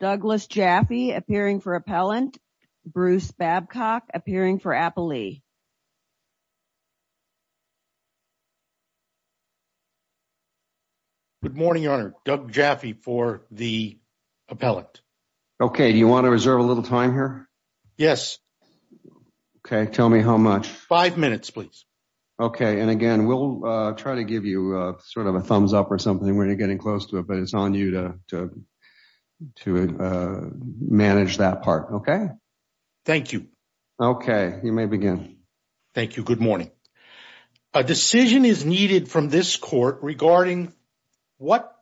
Douglas Jaffe appearing for appellant, Bruce Babcock appearing for Appalee. Good morning, Your Honor. Doug Jaffe for the appellant. Okay, do you want to reserve a little time here? Yes. Okay, tell me how much. Five minutes, please. Okay, and again, we'll try to give you a sort of a thumbs up or something when you're getting close to it, but it's on you to manage that part, okay? Thank you. Okay, you may begin. Thank you. Good morning. A decision is needed from this court regarding what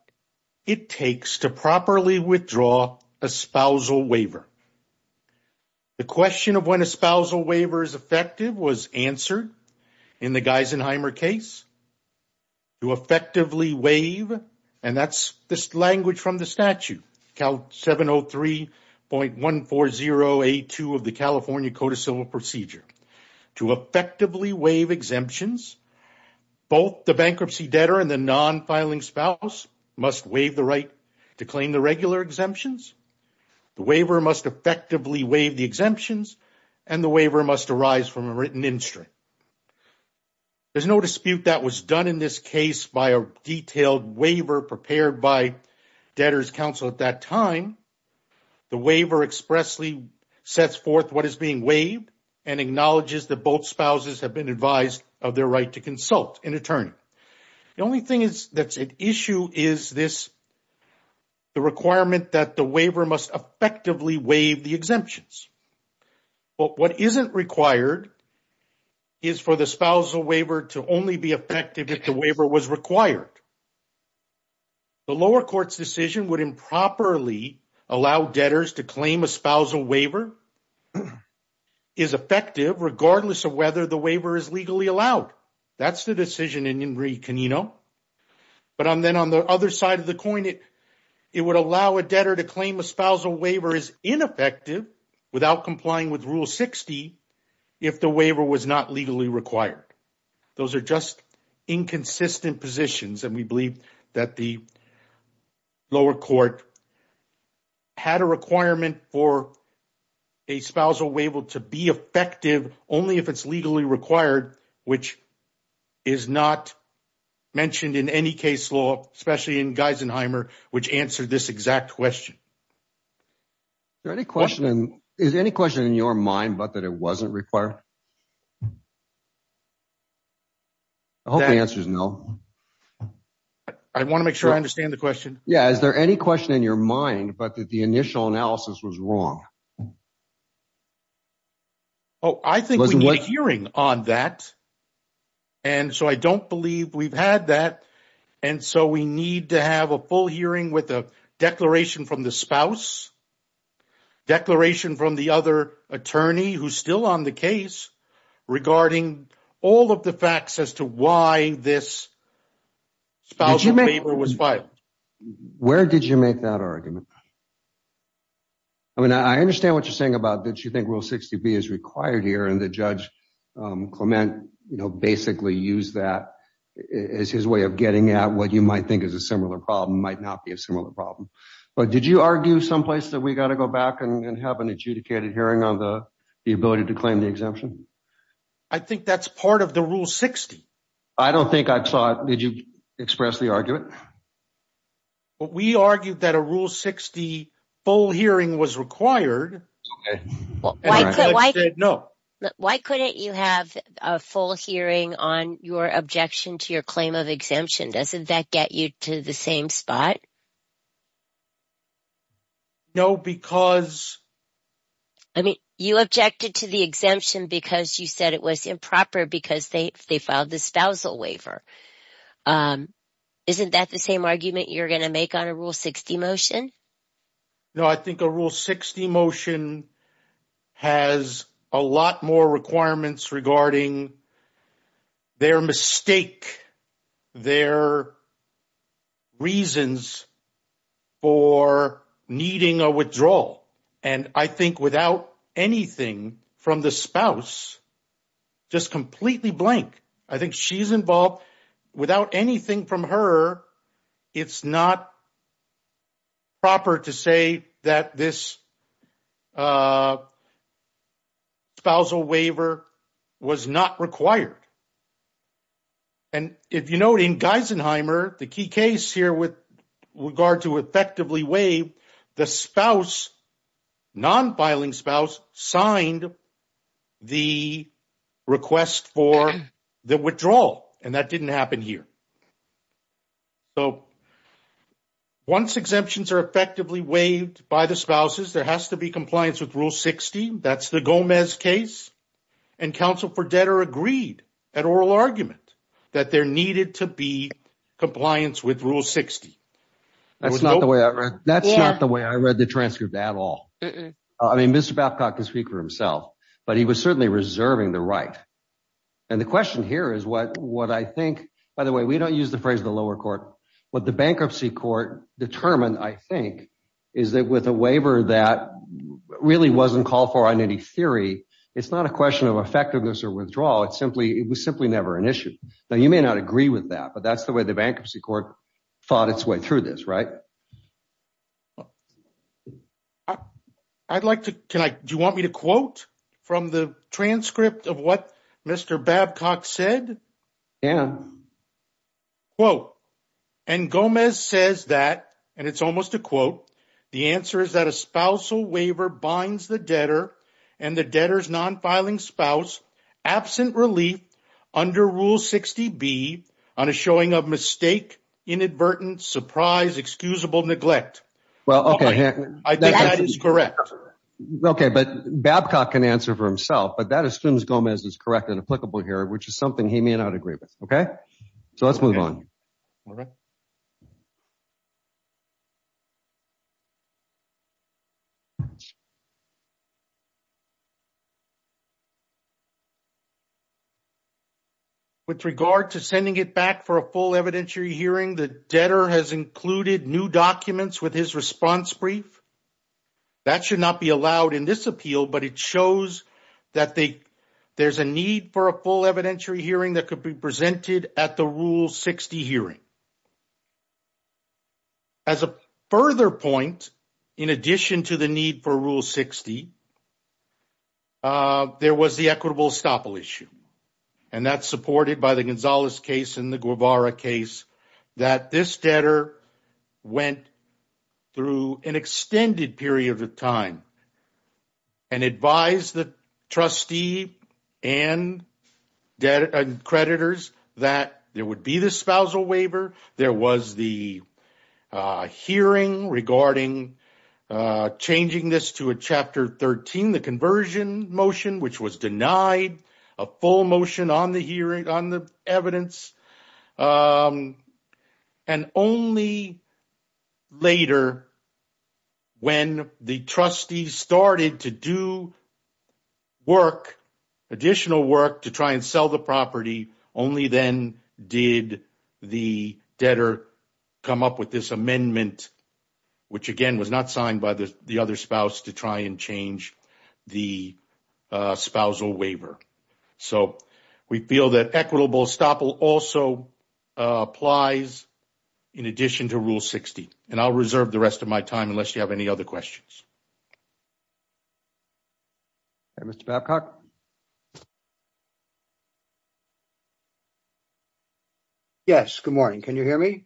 it takes to properly withdraw a spousal waiver. The question of when a spousal waiver is effective was answered in the Geisenheimer case to effectively waive, and that's this language from the statute, Cal 703.140A2 of the California Code of Civil Procedure. To effectively waive exemptions, both the bankruptcy debtor and the non-filing spouse must waive the right to claim the regular exemptions, the waiver must effectively waive the exemptions, and the waiver must arise from a written instrument. There's no dispute that was done in this case by a detailed waiver prepared by debtor's counsel at that time. The waiver expressly sets forth what is being waived and acknowledges that both spouses have been advised of their right to consult an attorney. The only thing that's an issue is the requirement that the waiver must effectively waive the exemptions, but what isn't required is for the spousal waiver to only be effective if the waiver was required. The lower court's decision would improperly allow debtors to claim a spousal waiver is effective regardless of whether the waiver is legally allowed. That's the decision in Ingri Canino. But then on the other side of the coin, it would allow a debtor to claim a spousal waiver is ineffective without complying with Rule 60 if the waiver was not legally required. Those are just inconsistent positions, and we believe that the lower court had a requirement for a spousal waiver to be effective only if it's legally required, which is not mentioned in any case law, especially in Geisenheimer, which answered this exact question. Is there any question in your mind about that it wasn't required? I hope the answer is no. I want to make sure I understand the question. Yeah. Is there any question in your mind, but that the initial analysis was wrong? Oh, I think we need a hearing on that, and so I don't believe we've had that, and so we need to have a full hearing with a declaration from the spouse, declaration from the other attorney who's still on the case regarding all of the facts as to why this spousal waiver was filed. Where did you make that argument? I mean, I understand what you're saying about that you think Rule 60B is required here, and that Judge Clement basically used that as his way of getting at what you might think is similar problem, might not be a similar problem, but did you argue someplace that we got to go back and have an adjudicated hearing on the ability to claim the exemption? I think that's part of the Rule 60. I don't think I saw it. Did you express the argument? We argued that a Rule 60 full hearing was required. Why couldn't you have a full hearing on your objection to your claim of exemption? Doesn't that get you to the same spot? No, because... I mean, you objected to the exemption because you said it was improper because they filed the spousal waiver. Isn't that the same argument you're going to make on a Rule 60 motion? No, I think a Rule 60 motion has a lot more requirements regarding their mistake, their reasons for needing a withdrawal. And I think without anything from the spouse, just completely blank. I think she's involved. Without anything from her, it's not proper to say that this spousal waiver was not required. And if you note in Geisenheimer, the key case here with regard to effectively waive, the spouse, non-filing spouse signed the request for the withdrawal. And that didn't happen here. So once exemptions are effectively waived by the spouses, there has to be compliance with Rule 60. That's the Gomez case. And counsel for debtor agreed at oral argument that there needed to be compliance with Rule 60. That's not the way I read the transcript at all. I mean, Mr. Babcock can speak for himself, but he was certainly reserving the right. And the question here is what I think, by the way, we don't use the phrase the lower court, what the bankruptcy court determined, I think, is that with a waiver that really wasn't called for on any theory, it's not a question of effectiveness or withdrawal. It's simply, it was simply never an issue. Now, you may not agree with that, but that's the way the bankruptcy court fought its way through this, right? I'd like to, can I, do you want me to quote from the transcript of what Mr. Babcock said? Yeah. Quote, and Gomez says that, and it's almost a quote, the answer is that a spousal waiver binds the debtor and the debtor's non-filing spouse absent relief under Rule 60B on a showing of mistake, inadvertent, surprise, excusable neglect. Well, okay. I think that is correct. Okay. But Babcock can answer for himself, but that assumes Gomez is correct and applicable here, which is something he may not agree with. Okay. So let's move on. With regard to sending it back for a full evidentiary hearing, the debtor has included new documents with his response brief. That should not be allowed in this appeal, but it shows that there's a need for a full evidentiary hearing that could be presented at the Rule 60 hearing. As a further point, in addition to the need for Rule 60, there was the equitable estoppel issue, and that's supported by the Gonzalez case and the Went through an extended period of time and advised the trustee and creditors that there would be the spousal waiver. There was the hearing regarding changing this to a Chapter 13, the conversion motion, which was denied a full motion on the evidence. And only later, when the trustee started to do work, additional work to try and sell the property, only then did the debtor come up with this amendment, which again, was not signed by the other spouse to try and change the spousal waiver. So we feel that equitable estoppel also applies in addition to Rule 60. And I'll reserve the rest of my time unless you have any other questions. Okay, Mr. Babcock. Yes, good morning. Can you hear me?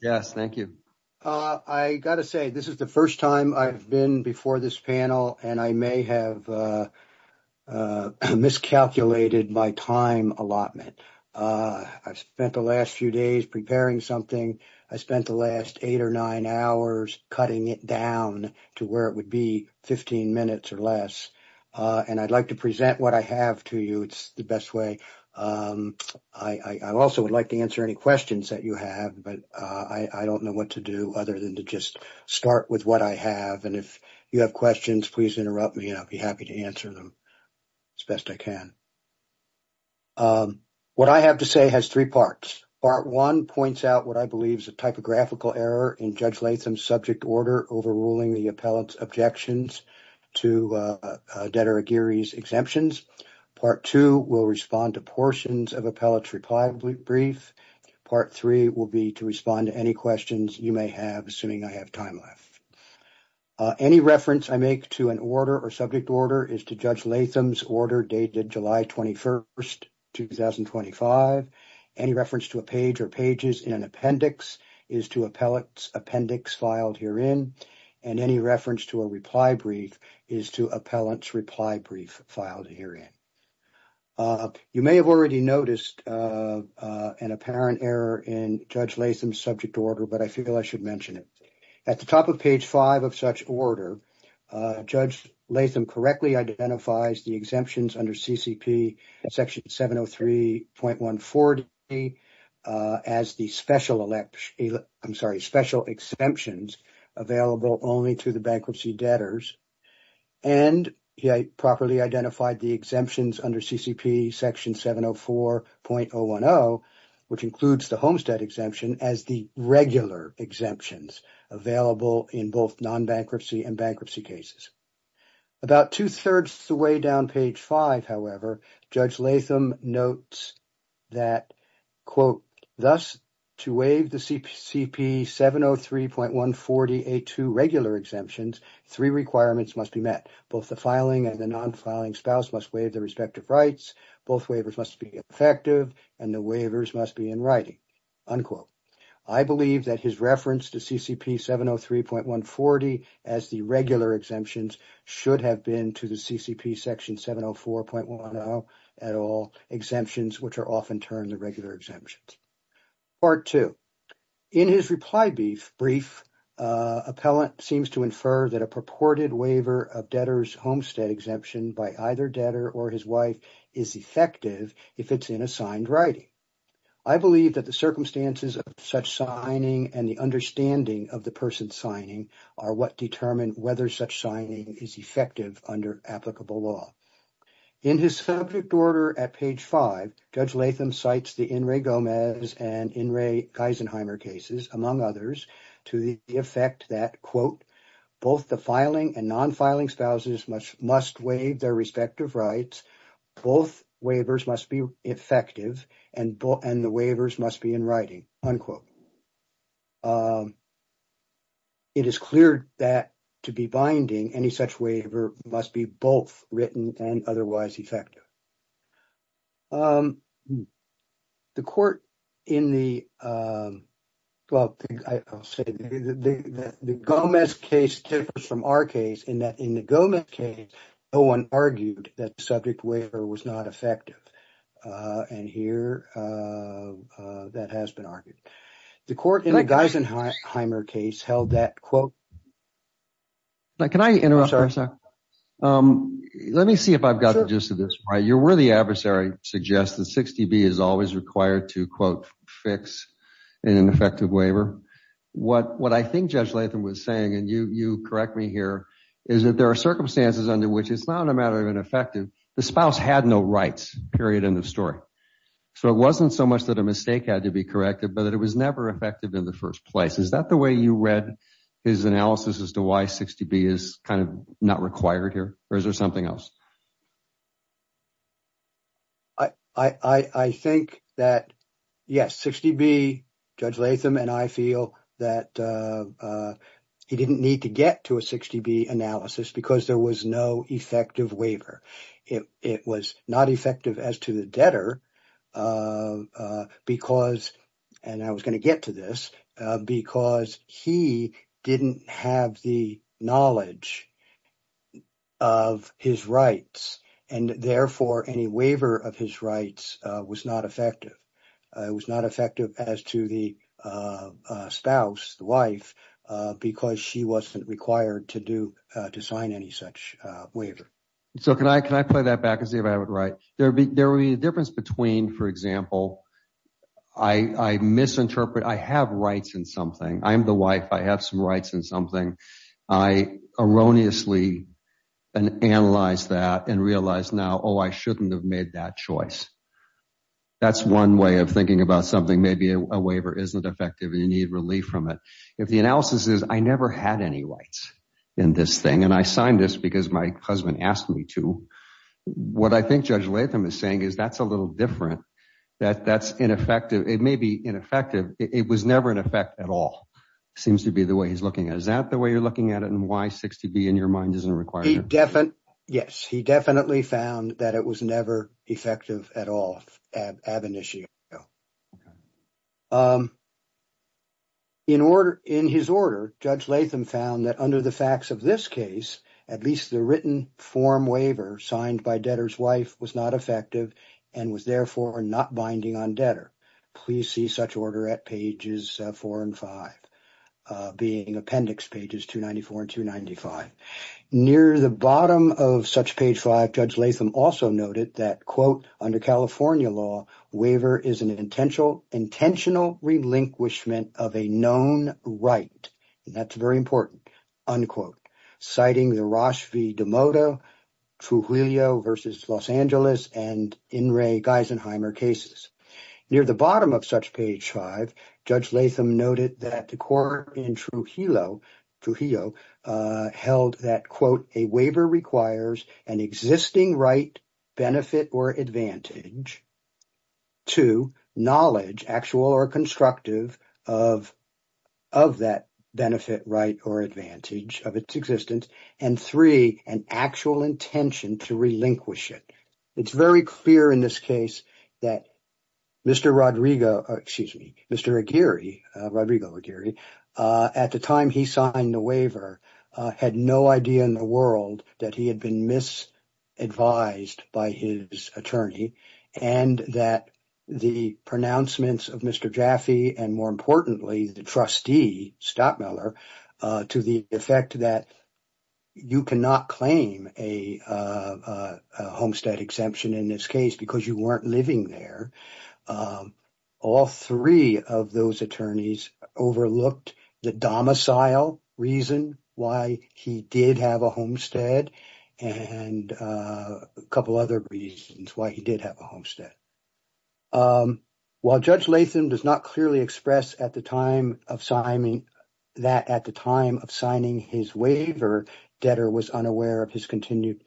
Yes, thank you. I got to say, this is the first time I've been before this panel and I may have miscalculated my time allotment. I've spent the last few days preparing something. I spent the last eight or nine hours cutting it down to where it would be 15 minutes or less. And I'd like to present what I have to you. It's the best way. I also would like to answer any questions that you have, but I don't know what to do other than to just start with what I have. And if you have questions, please interrupt me and I'll be happy to answer them as best I can. Um, what I have to say has three parts. Part one points out what I believe is a typographical error in Judge Latham's subject order overruling the appellate's objections to, uh, uh, Detta O'Geary's exemptions. Part two will respond to portions of appellate's reply brief. Part three will be to respond to any questions you may have, assuming I have time left. Uh, any reference I make to an order or subject order is to Judge Latham's order dated July 21st, 2025. Any reference to a page or pages in an appendix is to appellate's appendix filed herein. And any reference to a reply brief is to appellant's reply brief filed herein. Uh, you may have already noticed, uh, uh, an apparent error in Judge Latham's subject order, but I feel I should mention it. At the top of page five of such order, uh, Judge Latham correctly identifies the exemptions under CCP section 703.140, uh, as the special elect, I'm sorry, special exemptions available only to the bankruptcy debtors. And he properly identified the exemptions under CCP section 704.010, which includes the Homestead exemption as the regular exemptions available in both non-bankruptcy and bankruptcy cases. About two-thirds the way down page five, however, Judge Latham notes that, quote, thus to waive the CCP 703.140A2 regular exemptions, three requirements must be met. Both the filing and the non-filing spouse must waive their respective rights. Both waivers must be effective and the waivers must be in writing, unquote. I believe that his reference to CCP 703.140 as the regular exemptions should have been to the CCP section 704.10 at all exemptions, which are often termed the regular exemptions. Part two, in his reply brief, appellant seems to infer that a purported waiver of debtors Homestead exemption by either debtor or his wife is effective if it's in a signed writing. I believe that the circumstances of such signing and the understanding of the person signing are what determine whether such signing is effective under applicable law. In his subject order at page five, Judge Latham cites the In re Geisenheimer cases, among others, to the effect that, quote, both the filing and non-filing spouses must waive their respective rights. Both waivers must be effective and the waivers must be in writing, unquote. It is clear that to be binding, any such waiver must be both written and otherwise effective. The court in the, well, I'll say that the Gomez case differs from our case in that in the Gomez case, no one argued that the subject waiver was not effective. And here, that has been argued. The court in the Geisenheimer case held that, quote. Now, can I interrupt for a second? Let me see if I've got the gist of this right. Your worthy adversary suggests that 60B is always required to, quote, fix an ineffective waiver. What I think Judge Latham was saying, and you correct me here, is that there are circumstances under which it's not a matter of ineffective. The spouse had no rights, period, in the story. So it wasn't so much that a mistake had to be corrected, but that it was never effective in the first place. Is that the way you read his analysis as to why 60B is kind of not required here, or is there something else? I think that, yes, 60B, Judge Latham and I feel that he didn't need to get to a 60B analysis because there was no effective waiver. It was not effective as to the debtor because, and I was to this, because he didn't have the knowledge of his rights. And therefore, any waiver of his rights was not effective. It was not effective as to the spouse, the wife, because she wasn't required to sign any such waiver. So can I play that back and see if I have it right? There would be a difference between, for example, I misinterpret, I have rights in something. I'm the wife. I have some rights in something. I erroneously analyze that and realize now, oh, I shouldn't have made that choice. That's one way of thinking about something. Maybe a waiver isn't effective and you need relief from it. If the analysis is I never had any rights in this thing, and I signed this because my husband asked me to, what I think Judge Latham is saying is that's a little different, that that's ineffective. It may be ineffective. It was never in effect at all, seems to be the way he's looking at it. Is that the way you're looking at it and why 60B in your mind isn't required? He definitely, yes, he definitely found that it was never effective at all, ab initio. In order, in his order, Judge Latham found that under the facts of this case, at least the written form waiver signed by debtor's wife was not effective and was therefore not binding on debtor. Please see such order at pages four and five, being appendix pages 294 and 295. Near the bottom of such page five, Judge Latham also noted that, quote, under California law, waiver is an intentional relinquishment of a known right, and that's very important, unquote, citing the Roche v. DeMotto, Trujillo v. Los Angeles, and In re. Geisenheimer cases. Near the bottom of such page five, Judge Latham noted that the court in Trujillo held that, quote, a waiver requires an existing right, benefit, or advantage to knowledge, actual or constructive, of that benefit, right, or advantage of its existence, and three, an actual intention to relinquish it. It's very clear in this case that Mr. Rodrigo, excuse me, Mr. Aguirre, Rodrigo Aguirre, at the time he signed the waiver, had no idea in the world that he had been misadvised by his attorney and that the pronouncements of Mr. Jaffe and, more importantly, the trustee, Stockmiller, to the effect that you cannot claim a homestead exemption in this case because you weren't living there, all three of those attorneys overlooked the domicile reason why he did have a homestead and a couple other reasons why he did have a homestead. While Judge Latham does not clearly express that at the time of signing his waiver, Detter was unaware of his continued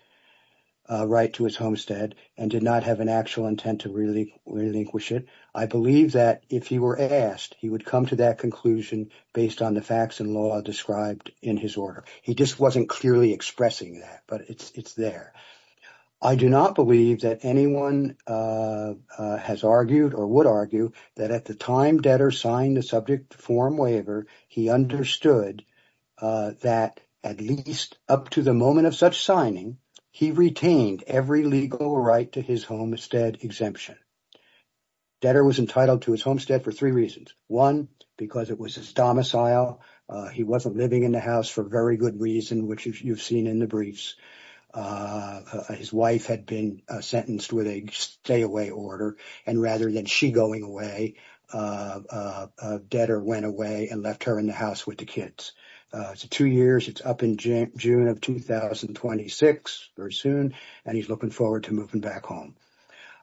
right to his homestead and did not have an actual intent to really relinquish it, I believe that if he were asked, he would come to that conclusion based on the facts and law described in his order. He just wasn't clearly expressing that, but it's there. I do not believe that anyone has argued or would argue that at the time signed the subject form waiver, he understood that at least up to the moment of such signing, he retained every legal right to his homestead exemption. Detter was entitled to his homestead for three reasons. One, because it was his domicile. He wasn't living in the house for very good reason, which you've seen in the briefs. His wife had been sentenced with a order and rather than she going away, Detter went away and left her in the house with the kids. It's two years, it's up in June of 2026, very soon, and he's looking forward to moving back home.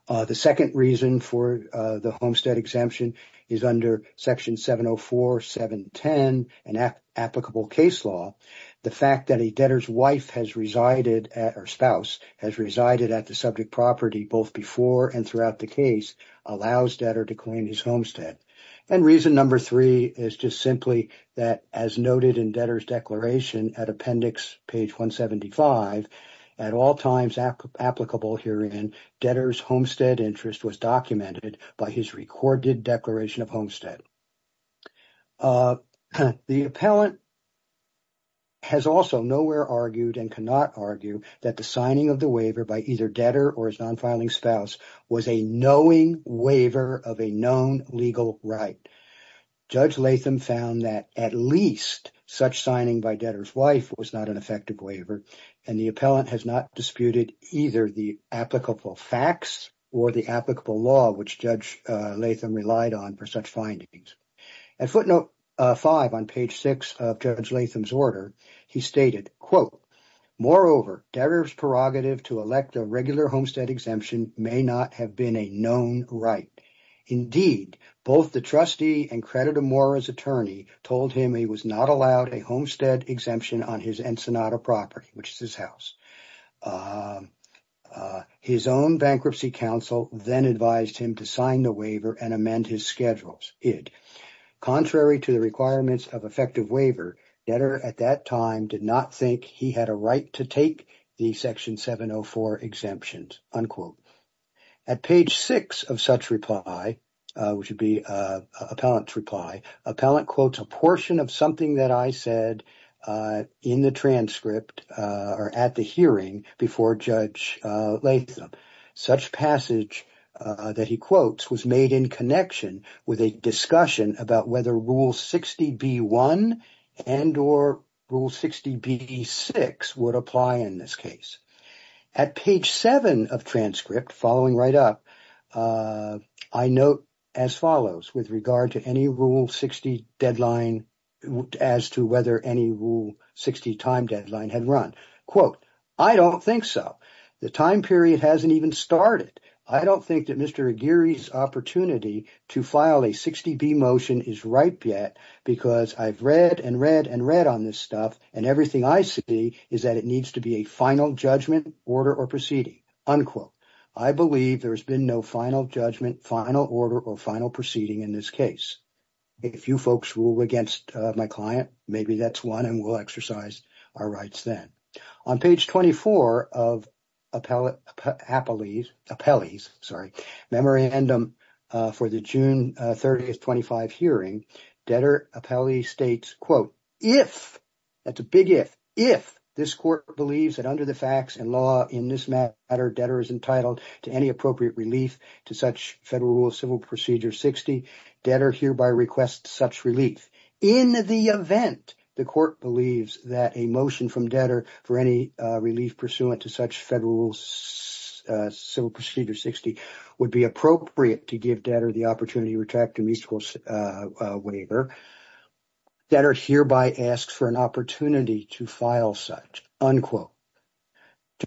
The second reason for the homestead exemption is under Section 704, 710, an applicable case law. The fact that a debtor's wife has resided, or spouse, has resided at the subject property both before and throughout the case allows Detter to claim his homestead. And reason number three is just simply that as noted in Detter's declaration at appendix page 175, at all times applicable herein, Detter's homestead interest was documented by his recorded declaration of homestead. The appellant has also nowhere argued and cannot argue that the signing of the was a knowing waiver of a known legal right. Judge Latham found that at least such signing by Detter's wife was not an effective waiver and the appellant has not disputed either the applicable facts or the applicable law which Judge Latham relied on for such findings. At footnote 5 on page 6 of Judge Latham's order, he stated, quote, moreover, Detter's prerogative to elect a regular homestead exemption may not have been a known right. Indeed, both the trustee and creditor Mora's attorney told him he was not allowed a homestead exemption on his Ensenada property, which is his house. His own bankruptcy counsel then advised him to sign the waiver and amend his schedules, id. Contrary to the requirements of effective waiver, Detter at that time did not he had a right to take the section 704 exemptions, unquote. At page 6 of such reply, which would be appellant's reply, appellant quotes a portion of something that I said in the transcript or at the hearing before Judge Latham. Such passage that he quotes was made in connection with a discussion about whether Rule 60b-1 and or Rule 60b-6 would apply in this case. At page 7 of transcript, following right up, I note as follows with regard to any Rule 60 deadline as to whether any Rule 60 time deadline had run. Quote, I don't think so. The time period hasn't even started. I don't think that Mr. Aguirre's opportunity to file a 60b motion is ripe yet because I've read and read and read on this stuff and everything I see is that it needs to be a final judgment, order, or proceeding, unquote. I believe there's been no final judgment, final order, or final proceeding in this case. If you folks rule against my client, maybe that's one and we'll exercise our rights then. On page 24 of appellee's, sorry, memorandum for the June 30th, 25 hearing, debtor appellee states, quote, if, that's a big if, if this court believes that under the facts and law in this matter, debtor is entitled to any appropriate relief to such Federal Rule of Civil Procedure 60, debtor hereby requests such relief. In the event the court believes that a motion from debtor for any relief pursuant to such Federal Civil Procedure 60 would be appropriate to give debtor the opportunity to retract a measurable waiver, debtor hereby asks for an opportunity to file such, unquote.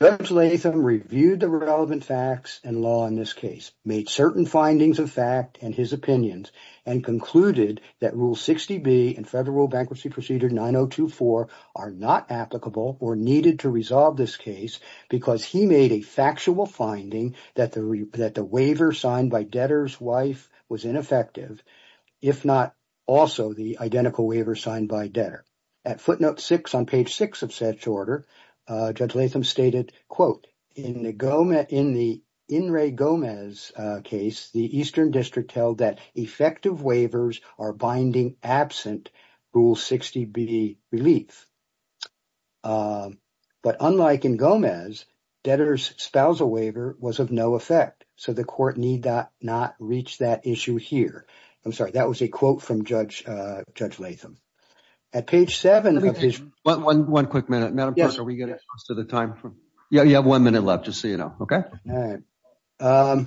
Judge Latham reviewed the relevant facts and law in this case, made certain findings of fact and his opinions, and concluded that Rule 60B and Federal Bankruptcy Procedure 9024 are not applicable or needed to resolve this case because he made a factual finding that the, that the waiver signed by debtor's wife was ineffective, if not also the identical waiver signed by debtor. At footnote six on page six of such order, Judge Latham stated, quote, in the Gomez, in the In re Gomez case, the Eastern District held that effective waivers are binding absent Rule 60B relief. But unlike in Gomez, debtor's spousal waiver was of no effect, so the court need not reach that issue here. I'm sorry, that was a quote from Judge, Judge Latham. At page seven of this. One, one, one quick minute. Madam Clerk, are we getting close to the time? Yeah, you have one minute left to see, you know, okay. All right.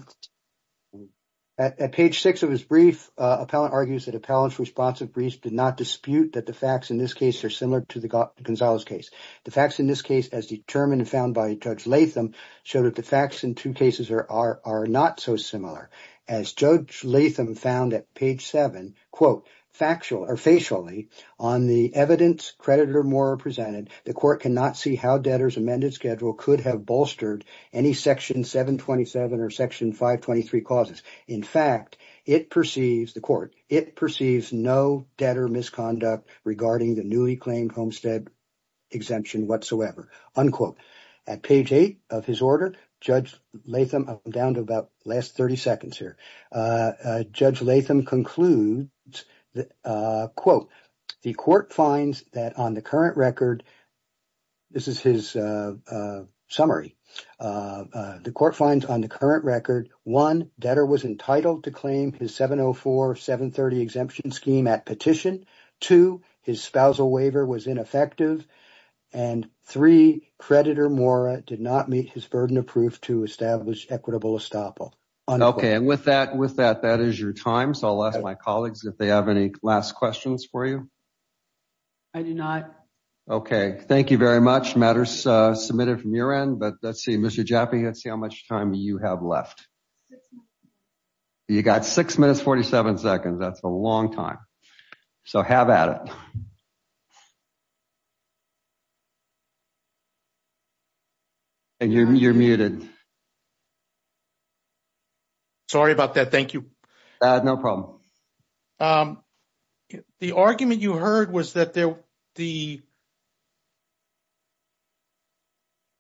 At page six of his brief, appellant argues that appellant's responsive brief did not dispute that the facts in this case are similar to the Gonzalez case. The facts in this case, as determined and found by Judge Latham, showed that the facts in two cases are, are, are not so similar. As Judge Latham found at page seven, quote, factual or facially on the evidence creditor more presented, the court cannot see how debtor's amended schedule could have bolstered any section 727 or section 523 causes. In fact, it perceives, the court, it perceives no debtor misconduct regarding the newly claimed homestead exemption whatsoever, unquote. At page eight of his order, Judge Latham, down to about last 30 seconds here, Judge Latham concludes that, quote, the court finds that on the current record, this is his summary, the court finds on the current record, one, debtor was entitled to claim his 704-730 exemption scheme at petition, two, his spousal waiver was ineffective, and three, creditor Mora did not meet his burden of proof to establish equitable estoppel. Okay, and with that, with that, that is your time, so I'll ask my colleagues if they have any last questions for you. I do not. Okay, thank you very much, matters submitted from your end, but let's see, Mr. Jaffe, let's see how much time you have left. You got six minutes, 47 seconds, that's a long time, so have at it. And you're muted. Sorry about that, thank you. No problem. The argument you heard was that there, the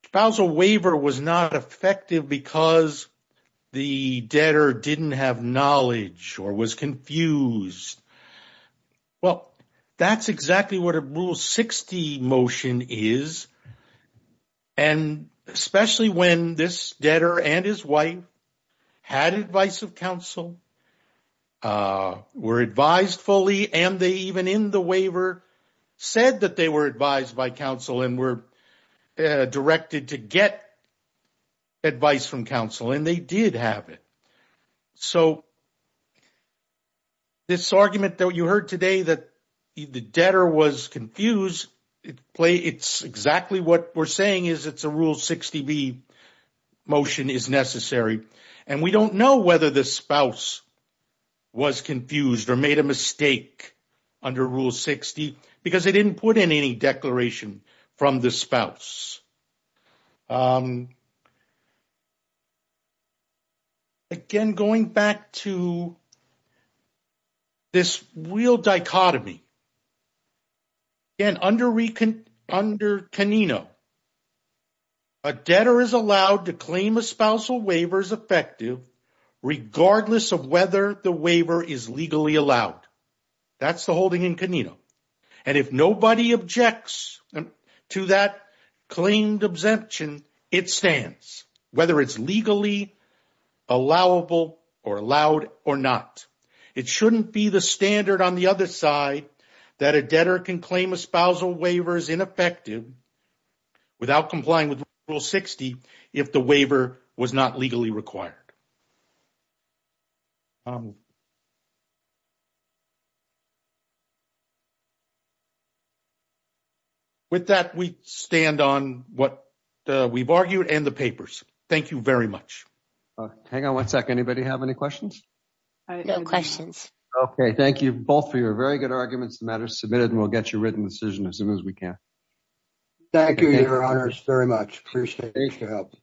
spousal waiver was not effective because the debtor didn't have knowledge or was confused. Well, that's exactly what a Rule 60 motion is, and especially when there's a debtor and his wife, had advice of counsel, were advised fully, and they even in the waiver said that they were advised by counsel and were directed to get advice from counsel, and they did have it. So this argument that you heard today that the debtor was confused, it's exactly what we're saying is it's a Rule 60b motion is necessary, and we don't know whether the spouse was confused or made a mistake under Rule 60 because they didn't put in any declaration from the spouse. Again, going back to this real dichotomy, again, under Canino, a debtor is allowed to claim a spousal waiver as effective, regardless of whether the waiver is legally allowed. That's the holding in Canino. And if nobody objects to that claimed exemption, it stands, whether it's legally allowable or allowed or not. It shouldn't be the standard on the other side that a debtor can claim a spousal waiver as ineffective without complying with Rule 60 if the waiver was not legally required. So with that, we stand on what we've argued and the papers. Thank you very much. Hang on one second. Anybody have any questions? No questions. Okay. Thank you both for your very good arguments. The matter is submitted, and we'll get you a written decision as soon as we can. Thank you, Your Honors, very much. Appreciate it. Thanks for helping.